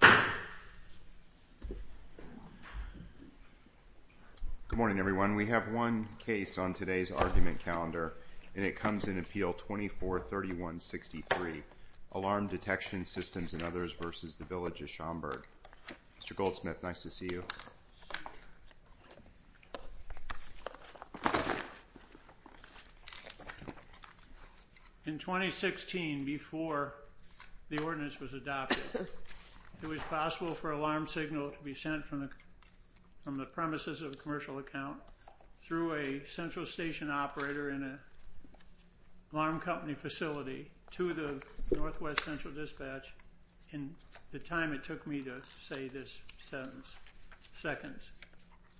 Good morning, everyone. We have one case on today's argument calendar, and it comes in Appeal 24-3163, Alarm Detection Systems and Others v. the Village of Schaumburg. Mr. Goldsmith, nice to see you. In 2016, before the ordinance was adopted, it was possible for alarm signal to be sent from the premises of a commercial account through a central station operator in an alarm company facility to the Northwest Central Dispatch in the time it took me to say this sentence.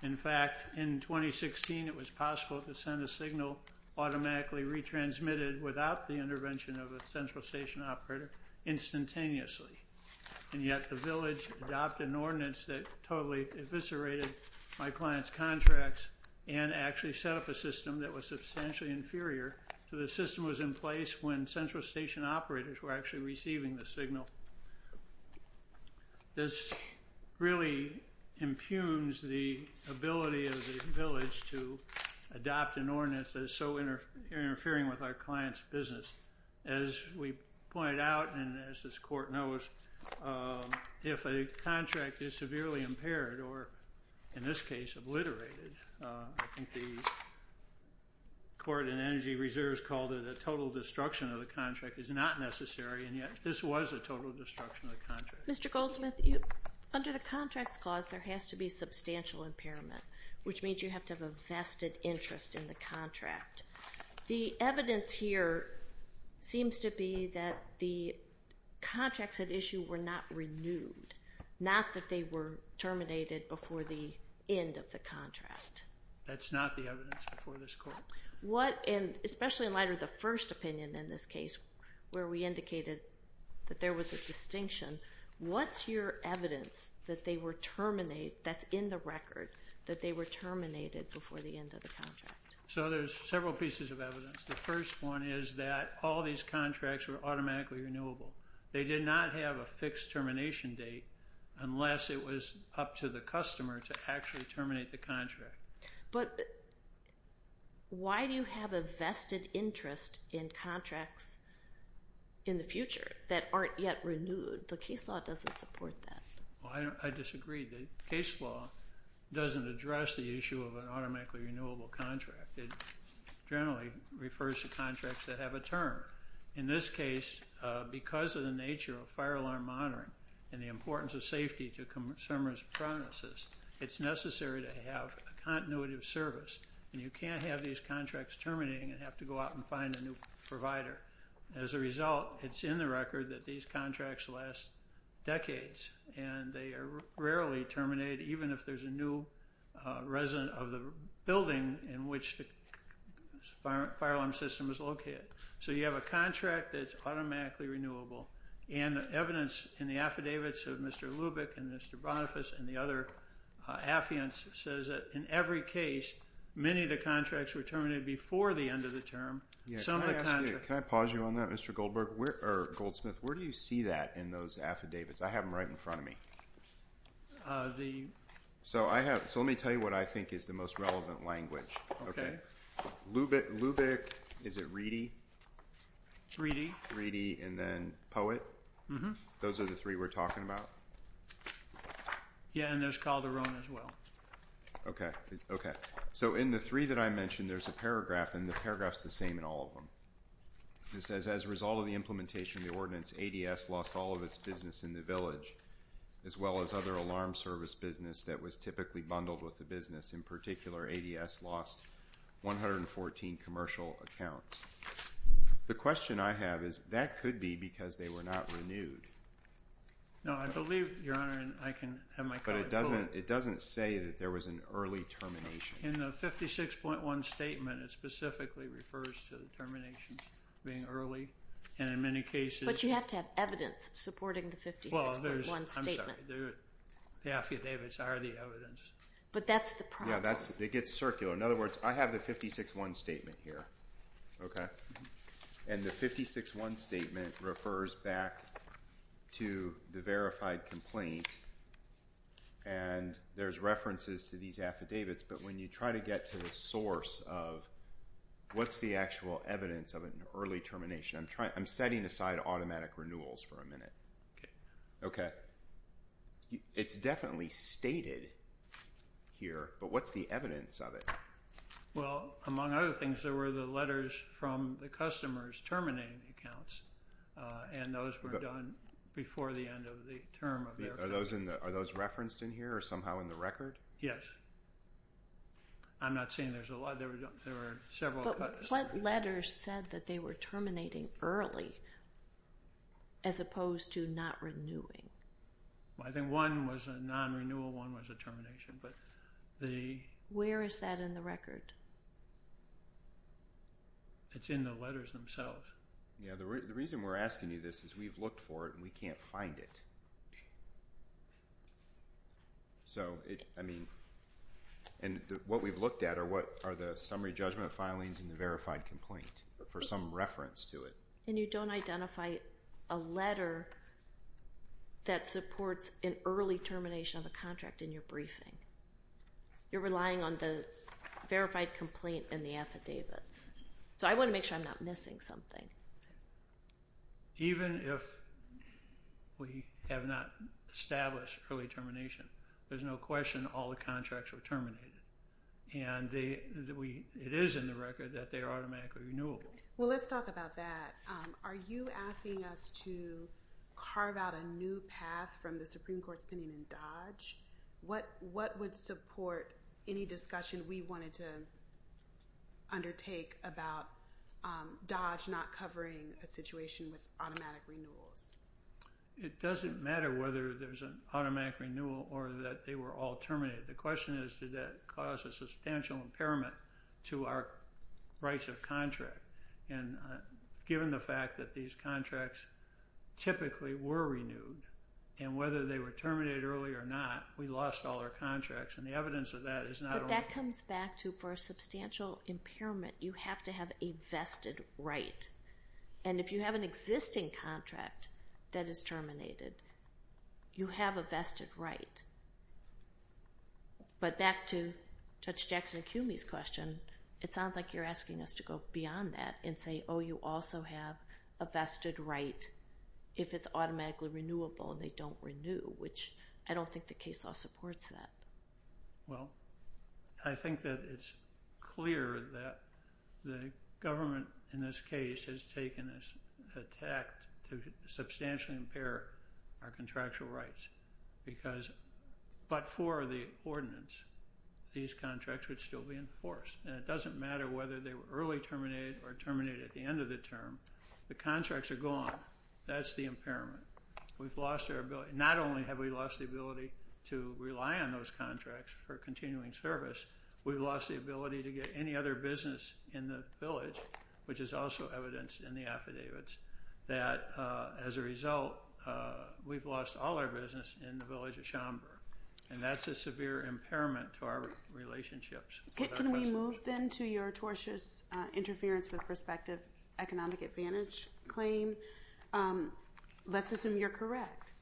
In fact, in 2016, it was possible to send a signal automatically retransmitted without the intervention of a central station operator instantaneously, and yet the Village adopted an ordinance that totally eviscerated my client's contracts and actually set up a system that was substantially inferior to the system that was in place when central station operators were actually receiving the signal. This really impugns the ability of the Village to adopt an ordinance that is so interfering with our client's business. As we pointed out, and as this Court knows, if a contract is severely impaired or, in this case, obliterated, I think the Court and Energy Reserves called it a total destruction of the contract is not necessary, and yet this was a total destruction of the contract. Mr. Goldsmith, under the Contracts Clause, there has to be substantial impairment, which means you have to have a vested interest in the contract. The evidence here seems to be that the contracts at issue were not renewed, not that they were terminated before the end of the contract. That's not the evidence before this Court. What, and especially in light of the first opinion in this case, where we indicated that there was a distinction, what's your evidence that they were terminated, that's in the record, that they were terminated before the end of the contract? So there's several pieces of evidence. The first one is that all these contracts were automatically renewable. They did not have a fixed termination date unless it was up to the customer to actually terminate the contract. But why do you have a vested interest in contracts in the future that aren't yet renewed? The case law doesn't support that. I disagree. The case law doesn't address the issue of an automatically renewable contract. It generally refers to contracts that have a term. In this case, because of the nature of fire alarm monitoring and the importance of safety to consumers' promises, it's necessary to have a continuative service. And you can't have these contracts terminating and have to go out and find a new provider. As a result, it's in the record that these contracts last decades, and they are rarely terminated, even if there's a new resident of the building in which the fire alarm system is located. So you have a contract that's automatically renewable, and the evidence in the affidavits of Mr. Lubick and Mr. Boniface and the other affiants says that in every case, many of the contracts were terminated before the end of the term. Can I pause you on that, Mr. Goldsmith? Where do you see that in those affidavits? I have them right in front of me. So let me tell you what I think is the most relevant language. Lubick, is it Reedy? Reedy. Reedy, and then Poet? Mm-hmm. Those are the three we're talking about? Yeah, and there's Calderon as well. Okay. Okay. So in the three that I mentioned, there's a paragraph, and the paragraph is the same in all of them. It says, as a result of the implementation of the ordinance, ADS lost all of its business in the village, as well as other alarm service business that was typically bundled with the business. In particular, ADS lost 114 commercial accounts. The question I have is, that could be because they were not renewed. No, I believe, Your Honor, and I can have my card pulled. But it doesn't say that there was an early termination. In the 56.1 statement, it specifically refers to the termination being early, and in many cases... But you have to have evidence supporting the 56.1 statement. Well, there's... I'm sorry. The affidavits are the evidence. But that's the problem. Yeah, it gets circular. So in other words, I have the 56.1 statement here, okay? And the 56.1 statement refers back to the verified complaint, and there's references to these affidavits. But when you try to get to the source of what's the actual evidence of an early termination, I'm setting aside automatic renewals for a minute, okay? It's definitely stated here, but what's the evidence of it? Well, among other things, there were the letters from the customers terminating accounts, and those were done before the end of the term of their firm. Are those referenced in here or somehow in the record? Yes. I'm not saying there's a lot. There were several... What letters said that they were terminating early as opposed to not renewing? I think one was a non-renewal, one was a termination, but the... Where is that in the record? It's in the letters themselves. Yeah, the reason we're asking you this is we've looked for it, and we can't find it. So, I mean... And what we've looked at are what are the summary judgment filings and the verified complaint for some reference to it. And you don't identify a letter that supports an early termination of a contract in your briefing. You're relying on the verified complaint and the affidavits. So I want to make sure I'm not missing something. Even if we have not established early termination, there's no question all the contracts were terminated. And it is in the record that they are automatically renewable. Well, let's talk about that. Are you asking us to carve out a new path from the Supreme Court's opinion in Dodge? What would support any discussion we wanted to undertake about Dodge not covering a situation with automatic renewals? It doesn't matter whether there's an automatic renewal or that they were all terminated. The question is, did that cause a substantial impairment to our rights of contract? And given the fact that these contracts typically were renewed, and whether they were terminated early or not, we lost all our contracts. And the evidence of that is not only— But that comes back to, for a substantial impairment, you have to have a vested right. And if you have an existing contract that is terminated, you have a vested right. But back to Judge Jackson-Kuhme's question, it sounds like you're asking us to go beyond that and say, oh, you also have a vested right if it's automatically renewable and they don't renew, which I don't think the case law supports that. Well, I think that it's clear that the government, in this case, has taken a tact to substantially impair our contractual rights because— but for the ordinance, these contracts would still be in force. And it doesn't matter whether they were early terminated or terminated at the end of the term. The contracts are gone. That's the impairment. We've lost our ability. Not only have we lost the ability to rely on those contracts for continuing service, we've lost the ability to get any other business in the village, which is also evidenced in the affidavits, that, as a result, we've lost all our business in the village of Schaumburg. And that's a severe impairment to our relationships. Can we move, then, to your tortious interference with prospective economic advantage claim? Let's assume you're correct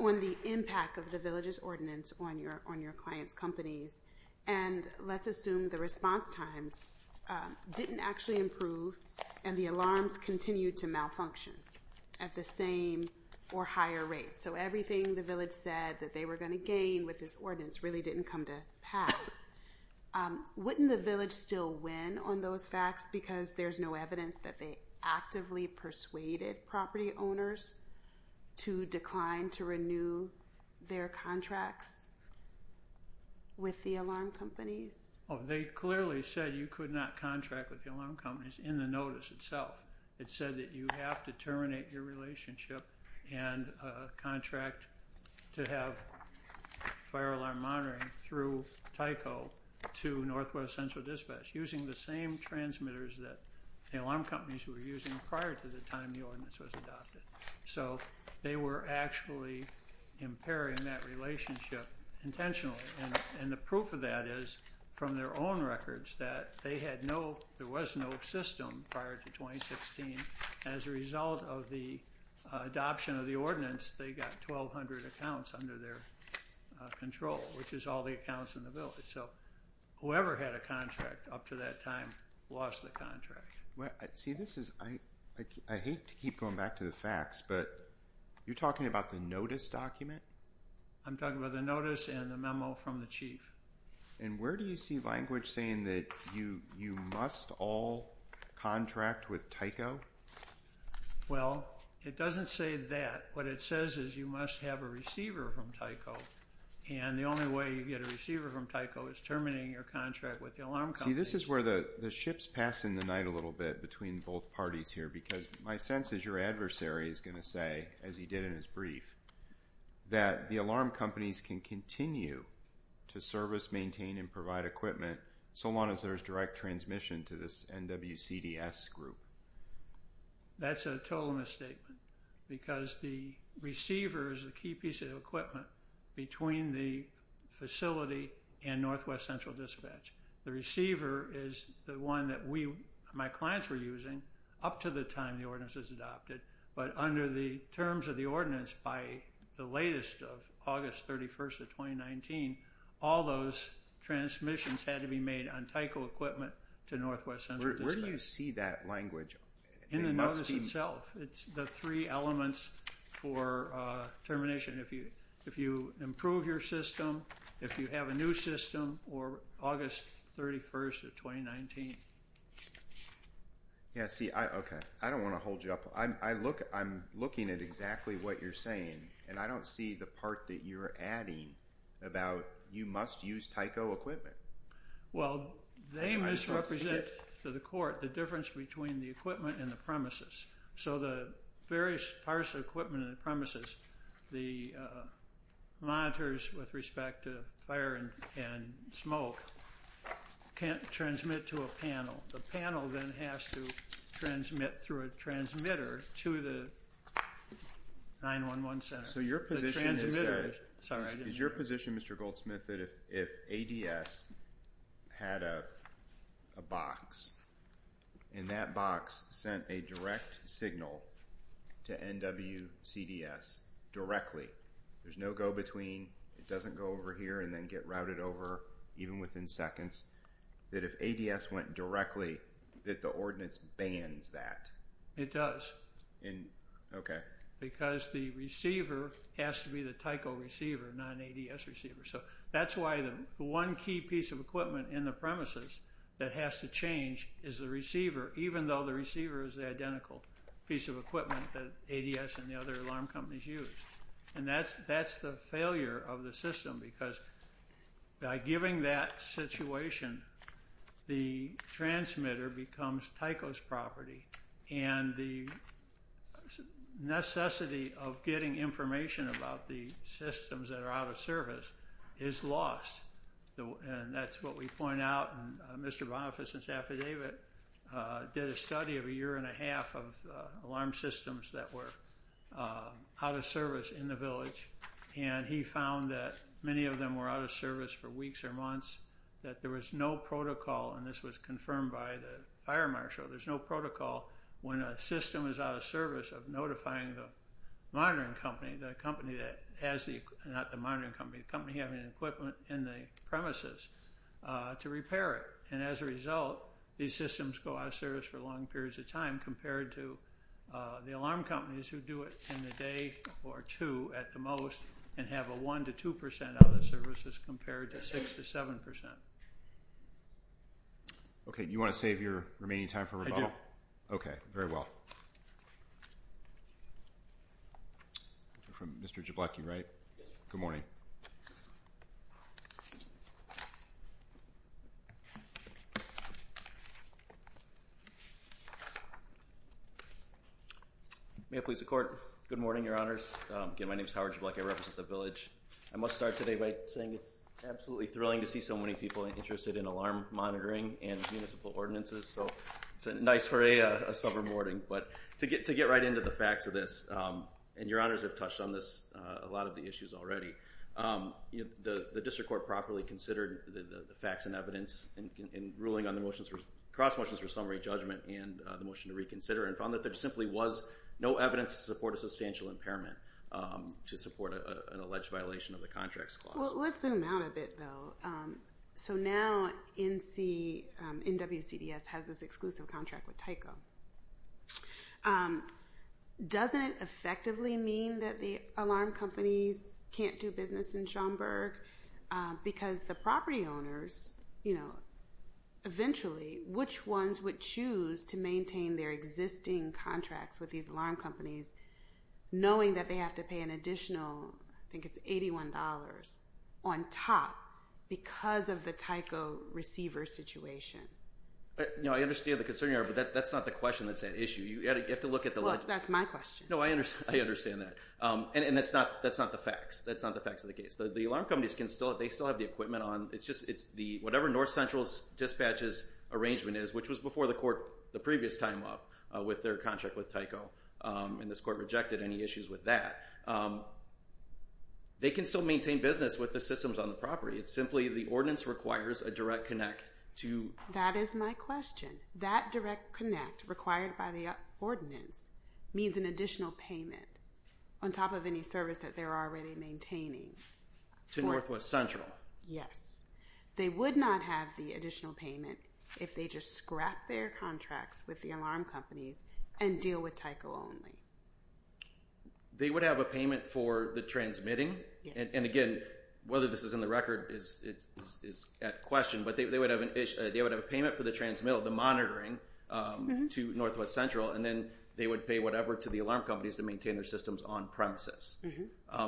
on the impact of the village's ordinance on your clients' companies, and let's assume the response times didn't actually improve and the alarms continued to malfunction at the same or higher rate. So everything the village said that they were going to gain with this ordinance really didn't come to pass. Wouldn't the village still win on those facts because there's no evidence that they actively persuaded property owners to decline to renew their contracts with the alarm companies? They clearly said you could not contract with the alarm companies in the notice itself. It said that you have to terminate your relationship and contract to have fire alarm monitoring through Tyco to Northwest Central Dispatch, using the same transmitters that the alarm companies were using prior to the time the ordinance was adopted. So they were actually impairing that relationship intentionally, and the proof of that is from their own records that there was no system prior to 2016. As a result of the adoption of the ordinance, they got 1,200 accounts under their control, which is all the accounts in the village. So whoever had a contract up to that time lost the contract. See, I hate to keep going back to the facts, but you're talking about the notice document? I'm talking about the notice and the memo from the chief. And where do you see language saying that you must all contract with Tyco? Well, it doesn't say that. What it says is you must have a receiver from Tyco, and the only way you get a receiver from Tyco is terminating your contract with the alarm companies. See, this is where the ship's passing the night a little bit between both parties here because my sense is your adversary is going to say, as he did in his brief, that the alarm companies can continue to service, maintain, and provide equipment so long as there's direct transmission to this NWCDS group. That's a total misstatement because the receiver is a key piece of equipment between the facility and Northwest Central Dispatch. The receiver is the one that my clients were using up to the time the ordinance was adopted, but under the terms of the ordinance by the latest of August 31st of 2019, all those transmissions had to be made on Tyco equipment to Northwest Central Dispatch. Where do you see that language? In the notice itself. It's the three elements for termination. If you improve your system, if you have a new system, or August 31st of 2019. Yeah, see, okay, I don't want to hold you up. I'm looking at exactly what you're saying, and I don't see the part that you're adding about you must use Tyco equipment. Well, they misrepresent to the court the difference between the equipment and the premises. So the various parts of equipment in the premises, the monitors with respect to fire and smoke can't transmit to a panel. The panel then has to transmit through a transmitter to the 911 center. So your position is that if ADS had a box, and that box sent a direct signal to NWCDS directly, there's no go between, it doesn't go over here and then get routed over even within seconds, that if ADS went directly, that the ordinance bans that. It does. Okay. Because the receiver has to be the Tyco receiver, not an ADS receiver. So that's why the one key piece of equipment in the premises that has to change is the receiver, even though the receiver is the identical piece of equipment that ADS and the other alarm companies use. And that's the failure of the system, because by giving that situation, the transmitter becomes Tyco's property, and the necessity of getting information about the systems that are out of service is lost. And that's what we point out. And Mr. Boniface's affidavit did a study of a year and a half of alarm systems that were out of service in the village, and he found that many of them were out of service for weeks or months, that there was no protocol. And this was confirmed by the fire marshal. There's no protocol when a system is out of service of notifying the monitoring company, the company that has the equipment, not the monitoring company, the company having the equipment in the premises to repair it. And as a result, these systems go out of service for long periods of time, compared to the alarm companies who do it in a day or two at the most, and have a 1% to 2% out of the services compared to 6% to 7%. Okay. You want to save your remaining time for rebuttal? Okay. Very well. You're from Mr. Jablokie, right? Yes. Good morning. May I please the Court? Good morning, Your Honors. Again, my name is Howard Jablokie. I represent the village. I must start today by saying it's absolutely thrilling to see so many people interested in alarm monitoring and municipal ordinances, so it's a nice hooray, a sober morning. But to get right into the facts of this, and Your Honors have touched on this, a lot of the issues already, the district court properly considered the facts and evidence in ruling on the motions, cross motions for summary judgment and the motion to reconsider, and found that there simply was no evidence to support a substantial impairment to support an alleged violation of the contracts clause. Well, let's zoom out a bit, though. So now NWCDS has this exclusive contract with Tyco. Doesn't it effectively mean that the alarm companies can't do business in Schaumburg? Because the property owners, you know, eventually which ones would choose to maintain their existing contracts with these alarm companies, knowing that they have to pay an additional, I think it's $81 on top because of the Tyco receiver situation. You know, I understand the concern you have, but that's not the question that's at issue. You have to look at the logic. Well, that's my question. No, I understand that. And that's not the facts. That's not the facts of the case. The alarm companies can still, they still have the equipment on. It's just, it's the, whatever North Central Dispatch's arrangement is, which was before the court the previous time up with their contract with Tyco and this court rejected any issues with that. They can still maintain business with the systems on the property. It's simply the ordinance requires a direct connect to. That is my question. That direct connect required by the ordinance means an additional payment on top of any service that they're already maintaining. To Northwest Central. Yes. They would not have the additional payment if they just scrap their contracts with the alarm companies and deal with Tyco only. They would have a payment for the transmitting. And again, whether this is in the record is at question, but they would have a payment for the transmittal, the monitoring to Northwest Central, and then they would pay whatever to the alarm companies to maintain their systems on premises.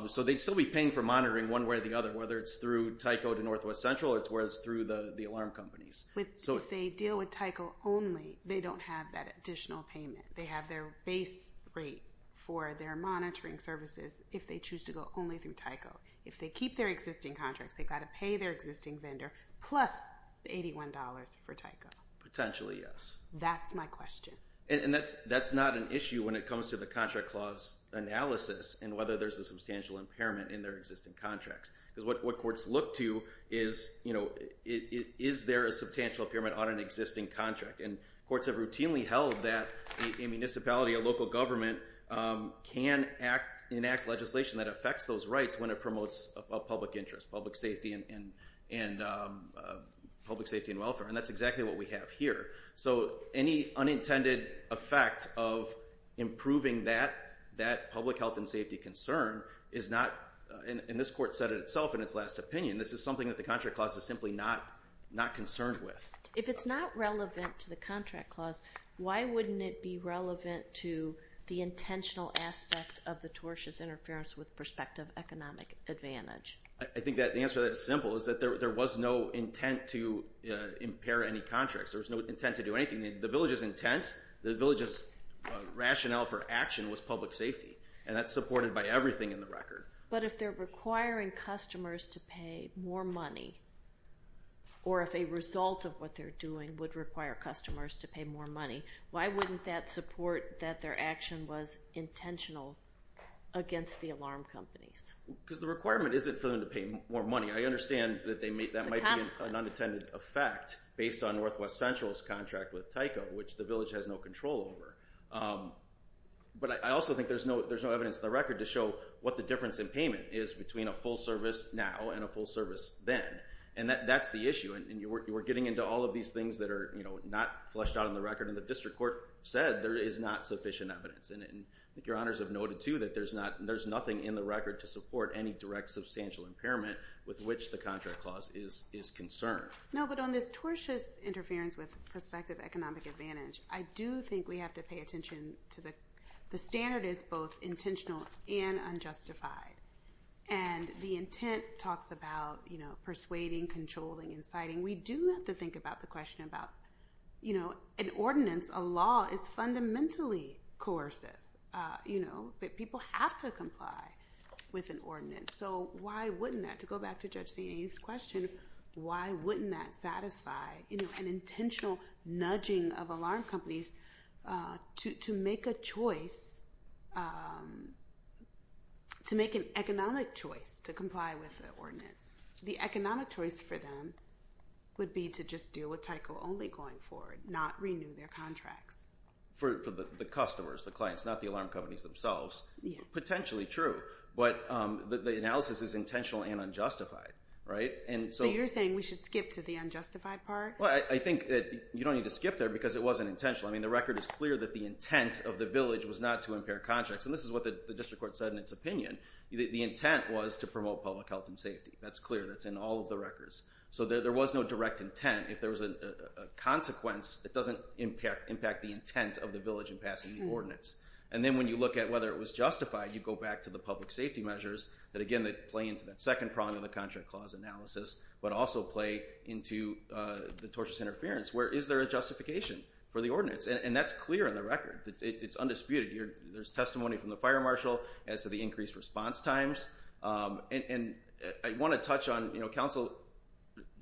So they'd still be paying for monitoring one way or the other, whether it's through Tyco to Northwest Central or it's where it's through the alarm companies. If they deal with Tyco only, they don't have that additional payment. They have their base rate for their monitoring services if they choose to go only through Tyco. If they keep their existing contracts, they've got to pay their existing vendor plus $81 for Tyco. Potentially, yes. That's my question. And that's not an issue when it comes to the contract clause analysis and whether there's a substantial impairment in their existing contracts. Because what courts look to is, you know, is there a substantial impairment on an existing contract? And courts have routinely held that a municipality, a local government, can enact legislation that affects those rights when it promotes a public interest, public safety and welfare. And that's exactly what we have here. So any unintended effect of improving that public health and safety concern is not, and this court said it itself in its last opinion, this is something that the contract clause is simply not concerned with. If it's not relevant to the contract clause, why wouldn't it be relevant to the intentional aspect of the torches interference with prospective economic advantage? I think the answer to that is simple, is that there was no intent to impair any contracts. There was no intent to do anything. The village's intent, the village's rationale for action was public safety. And that's supported by everything in the record. But if they're requiring customers to pay more money, or if a result of what they're doing would require customers to pay more money, why wouldn't that support that their action was intentional against the alarm companies? Because the requirement isn't for them to pay more money. I understand that that might be an unintended effect based on Northwest Central's contract with Tyco, which the village has no control over. But I also think there's no evidence in the record to show what the difference in payment is between a full service now and a full service then. And that's the issue. And you were getting into all of these things that are not fleshed out in the record. And the district court said there is not sufficient evidence in it. And I think your honors have noted too, that there's nothing in the record to support any direct substantial impairment with which the contract clause is concerned. No, but on this torches interference with prospective economic advantage, I do think we have to pay attention to the, the standard is both intentional and unjustified. And the intent talks about, you know, persuading, controlling, inciting. We do have to think about the question about, you know, an ordinance, a law is fundamentally coercive, you know, but people have to comply with an ordinance. So why wouldn't that to go back to judge CNA's question, why wouldn't that satisfy, you know, an intentional nudging of alarm companies to, to make a choice, to make an economic choice, to comply with the ordinance, the economic choice for them would be to just deal with Tyco only going forward, not renew their contracts. For the customers, the clients, not the alarm companies themselves, potentially true, but the analysis is intentional and unjustified. Right. And so you're saying we should skip to the unjustified part. Well, I think that you don't need to skip there because it wasn't intentional. I mean, the record is clear that the intent of the village was not to impair contracts. And this is what the district court said in its opinion. The intent was to promote public health and safety. That's clear. That's in all of the records. So there was no direct intent. If there was a consequence that doesn't impact, impact the intent of the village and passing the ordinance. And then when you look at whether it was justified, you go back to the public safety measures that again, that play into that second prong of the contract clause analysis, but also play into the tortious interference. Where is there a justification for the ordinance? And that's clear in the record. It's undisputed. There's testimony from the fire marshal as to the increased response times. And I want to touch on, you know, council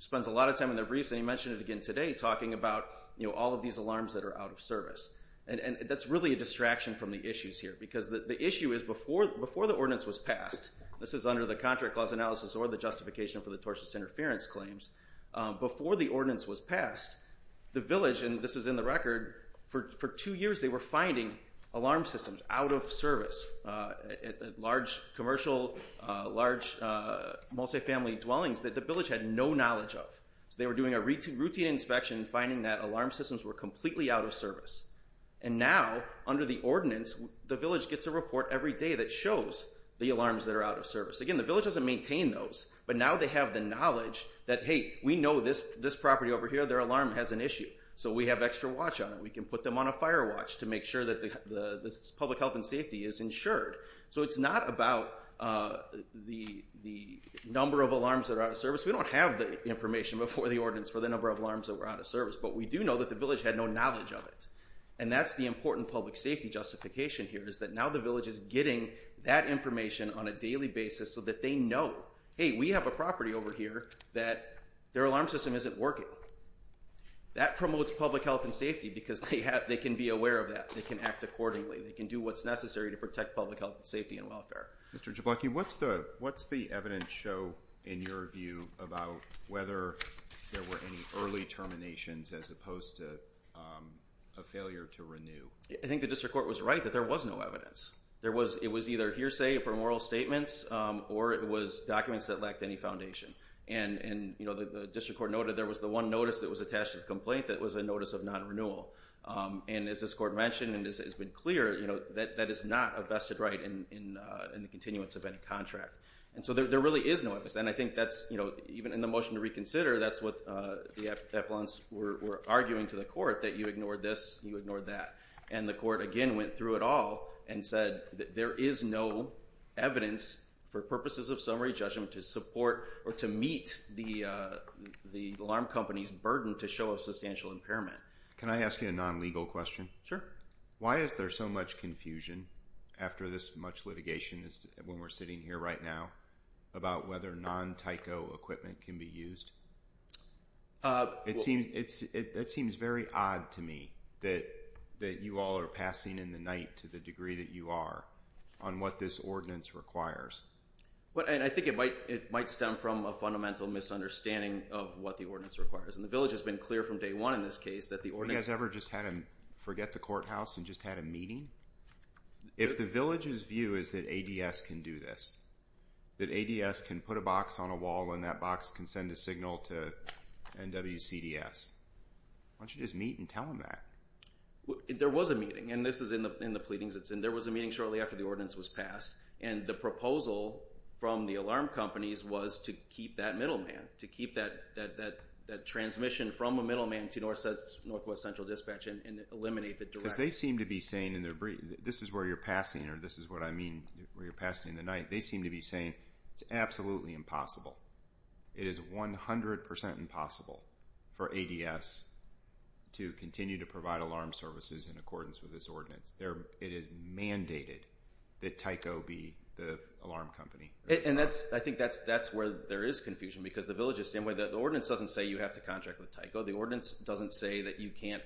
spends a lot of time in their briefs and he mentioned it again today, talking about, you know, all of these alarms that are out of service. And that's really a distraction from the issues here, because the issue is before, before the ordinance was passed, this is under the contract clause analysis or the justification for the tortious interference claims, before the ordinance was passed, the village, and this is in the record, for two years, they were finding alarm systems out of service at large commercial, large multifamily dwellings that the village had no knowledge of. So they were doing a routine inspection, finding that alarm systems were completely out of service. And now under the ordinance, the village gets a report every day that shows the alarms that are out of service. Again, the village doesn't maintain those, but now they have the knowledge that, Hey, we know this, this property over here, their alarm has an issue. So we have extra watch on it. We can put them on a fire watch to make sure that the public health and safety is insured. So it's not about the, the number of alarms that are out of service. We don't have the information before the ordinance for the number of alarms that were out of service, but we do know that the village had no knowledge of it. And that's the important public safety justification here is that now the village is getting that information on a daily basis so that they know, Hey, we have a property over here that their alarm system isn't working. That promotes public health and safety because they have, they can be aware of that. They can act accordingly. They can do what's necessary to protect public health and safety and Mr. Jablonski, what's the, what's the evidence show in your view about whether there were any early terminations as opposed to a failure to renew? I think the district court was right that there was no evidence there was, it was either hearsay for moral statements, or it was documents that lacked any foundation. And, and, you know, the district court noted there was the one notice that was attached to the complaint. That was a notice of non-renewal. And as this court mentioned, and this has been clear, you know, that that is not a vested right in the continuance of any contract. And so there really is no evidence. And I think that's, you know, even in the motion to reconsider, that's what the affluence were arguing to the court that you ignored this, you ignored that. And the court again went through it all and said that there is no evidence for purposes of summary judgment to support or to meet the, uh, the alarm company's burden to show a substantial impairment. Can I ask you a non-legal question? Sure. Why is there so much confusion after this much litigation is when we're sitting here right now about whether non Tyco equipment can be used? Uh, it seems, it's, it, it seems very odd to me that that you all are passing in the night to the Well, and I think it might, it might stem from a fundamental misunderstanding of what the ordinance requires. And the village has been clear from day one in this case, that the ordinance ever just had him forget the courthouse and just had a meeting. If the village's view is that ADS can do this, that ADS can put a box on a wall and that box can send a signal to NWCDS. Why don't you just meet and tell him that there was a meeting and this is in the, in the pleadings it's in, there was a meeting shortly after the ordinance was passed and the proposal from the alarm companies was to keep that middleman, to keep that, that, that transmission from a middleman to NWCDS and eliminate the direct. Cause they seem to be saying in their brief, this is where you're passing or this is what I mean where you're passing in the night. They seem to be saying it's absolutely impossible. It is 100% impossible for ADS to continue to provide alarm services in accordance with this ordinance. It is mandated that Tyco be the alarm company. And that's, I think that's, that's where there is confusion because the village is the same way that the ordinance doesn't say you have to contract with Tyco. The ordinance doesn't say that you can't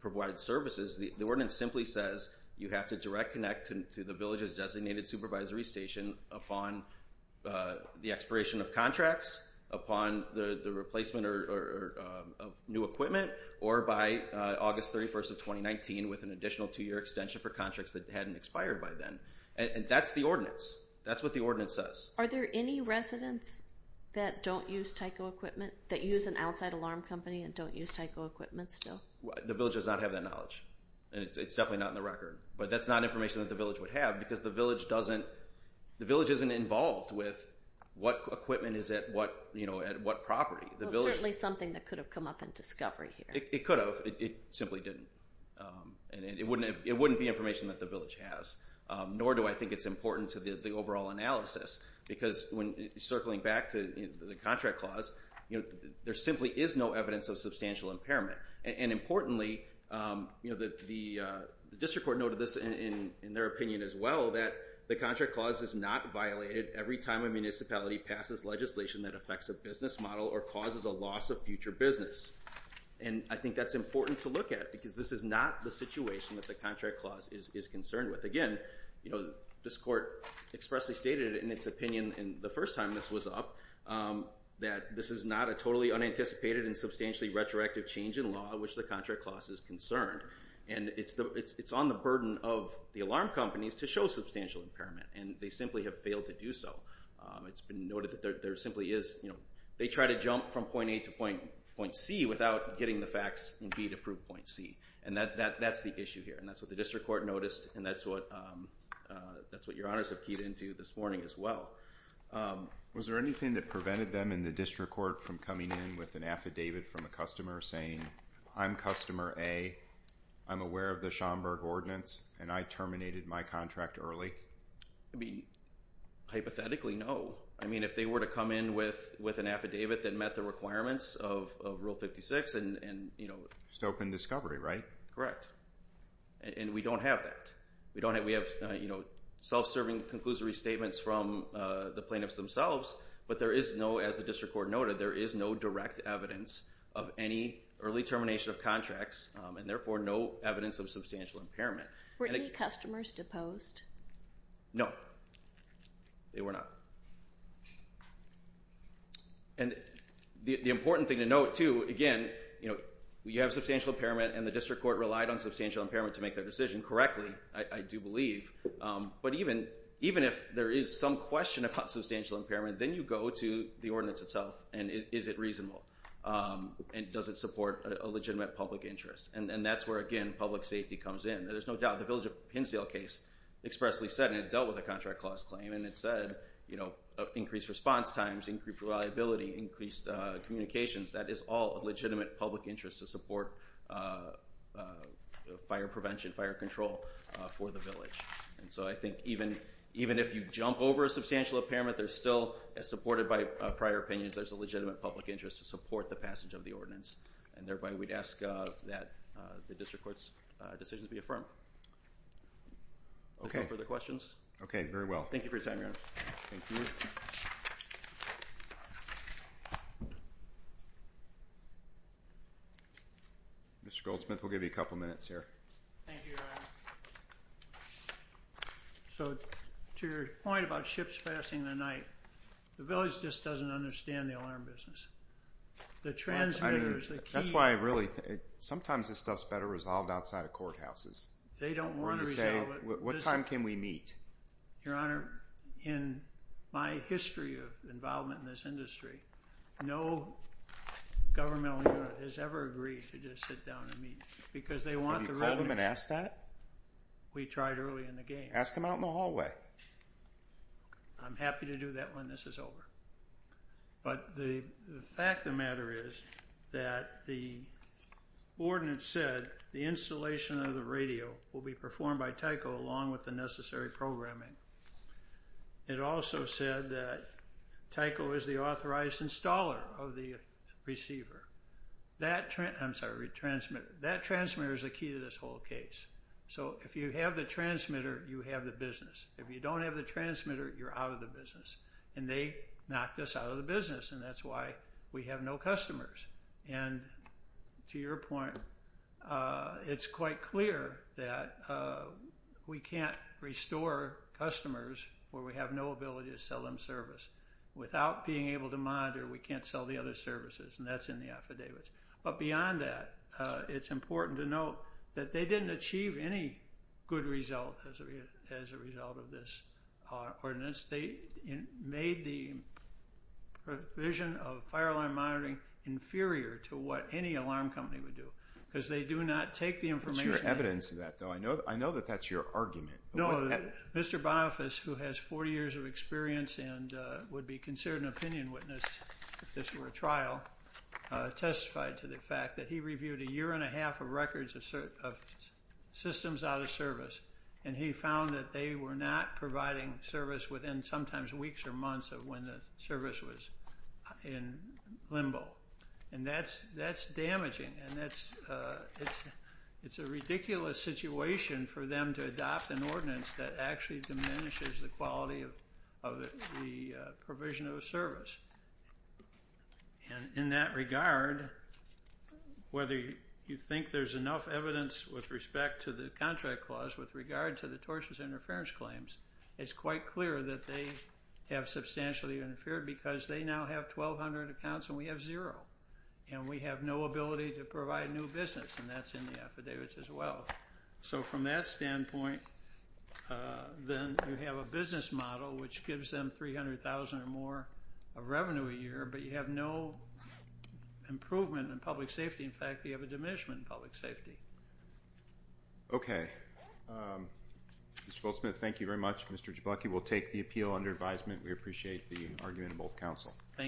provide services. The ordinance simply says you have to direct connect to the village's designated supervisory station upon the expiration of contracts upon the, the replacement or new equipment or by August 31st of 2019 with an additional two year extension for contracts that hadn't expired by then. And that's the ordinance. That's what the ordinance says. Are there any residents that don't use Tyco equipment that use an outside alarm company and don't use Tyco equipment still? The village does not have that knowledge and it's definitely not in the record, but that's not information that the village would have because the village doesn't, the village isn't involved with what equipment is at what, you know, at what property. Certainly something that could have come up in discovery here. It could have, it simply didn't. And it wouldn't have, it wouldn't be information that the village has. Nor do I think it's important to the overall analysis because when circling back to the contract clause, you know, there simply is no evidence of substantial impairment and importantly you know that the district court noted this in their opinion as well, that the contract clause is not violated every time a municipality passes legislation that affects a business model or causes a loss of future business. And I think that's important to look at because this is not the situation that the contract clause is concerned with. Again, you know, this court expressly stated in its opinion in the first time this was up that this is not a totally unanticipated and substantially retroactive change in law, which the contract clause is concerned. And it's the, it's on the burden of the alarm companies to show substantial impairment and they simply have failed to do so. It's been noted that there simply is, you know, they try to jump from point A to point C without getting the facts in B to prove point C. And that's the issue here. And that's what the district court noticed. And that's what your honors have keyed into this morning as well. Was there anything that prevented them in the district court from coming in with an affidavit from a customer saying I'm customer A, I'm aware of the Schomburg ordinance and I terminated my contract early? I mean, hypothetically, no. I mean, if they were to come in with, with an affidavit that met the requirements of rule 56 and, and, you know, Just open discovery, right? Correct. And we don't have that. We don't have, we have, you know, self-serving conclusory statements from the plaintiffs themselves, but there is no, as the district court noted, there is no direct evidence of any early termination of contracts and therefore no evidence of substantial impairment. Were any customers deposed? No, they were not. And the important thing to note too, again, you know, you have substantial impairment and the district court relied on substantial impairment to make that decision correctly. I do believe. But even, even if there is some question about substantial impairment, then you go to the ordinance itself. And is it reasonable? And does it support a legitimate public interest? And that's where again, public safety comes in. There's no doubt. The village of Pinsdale case expressly said, and it dealt with a contract clause claim and it said, you know, increased response times, increased reliability, increased communications. That is all a legitimate public interest to support fire prevention, fire control for the village. And so I think even, even if you jump over a substantial impairment, they're still supported by prior opinions. There's a legitimate public interest to support the passage of the ordinance and thereby we'd ask that the district court's decisions be affirmed. Okay. Further questions. Okay. Very well. Thank you for your time. Mr. Goldsmith, we'll give you a couple of minutes here. So to your point about ships passing the night, the village just doesn't understand the alarm business, the transmitters. That's why I really, sometimes this stuff's better resolved outside of courthouses. They don't want to resolve it. What time can we meet your honor? In my history of involvement in this industry, no governmental unit has ever agreed to just sit down and meet because they want the revenue. We tried early in the game, ask him out in the hallway. I'm happy to do that when this is over, but the, the fact of the matter is that the ordinance said the installation of the radio will be performed by Tyco along with the necessary programming. It also said that Tyco is the authorized installer of the receiver. That trend, I'm sorry, retransmit, that transmitter is the key to this whole case. So if you have the transmitter, you have the business. If you don't have the transmitter, you're out of the business. And they knocked us out of the business. And that's why we have no customers. And to your point, uh, it's quite clear that, uh, we can't restore customers where we have no ability to sell them service without being able to monitor. We can't sell the other services. And that's in the affidavits. But beyond that, uh, it's important to know that they didn't achieve any good result as a, as a result of this ordinance. They made the provision of fireline monitoring inferior to what any alarm company would do because they do not take the information. Evidence of that though. I know, I know that that's your argument. Mr. Bonoffice who has four years of experience and, uh, would be considered an opinion witness if this were a trial, uh, testified to the fact that he reviewed a year and a half of records of certain systems out of service. And he found that they were not providing service within sometimes weeks or months of when the service was in limbo. And that's, that's damaging. And that's, uh, it's, it's a ridiculous situation for them to adopt an ordinance that actually diminishes the quality of, of the, uh, provision of service. And in that regard, whether you think there's enough evidence with respect to the contract clause with regard to the tortious interference claims, it's quite clear that they have substantially interfered because they now have 1,200 accounts and we have zero and we have no ability to provide new business. And that's in the affidavits as well. So from that standpoint, uh, then you have a business model, which gives them 300,000 or more of revenue a year, but you have no improvement in public safety. In fact, we have a diminishment in public safety. Okay. Um, Mr. Goldsmith, thank you very much. Mr. Jablocki will take the appeal under advisement. We appreciate the argument of both council. Thank you.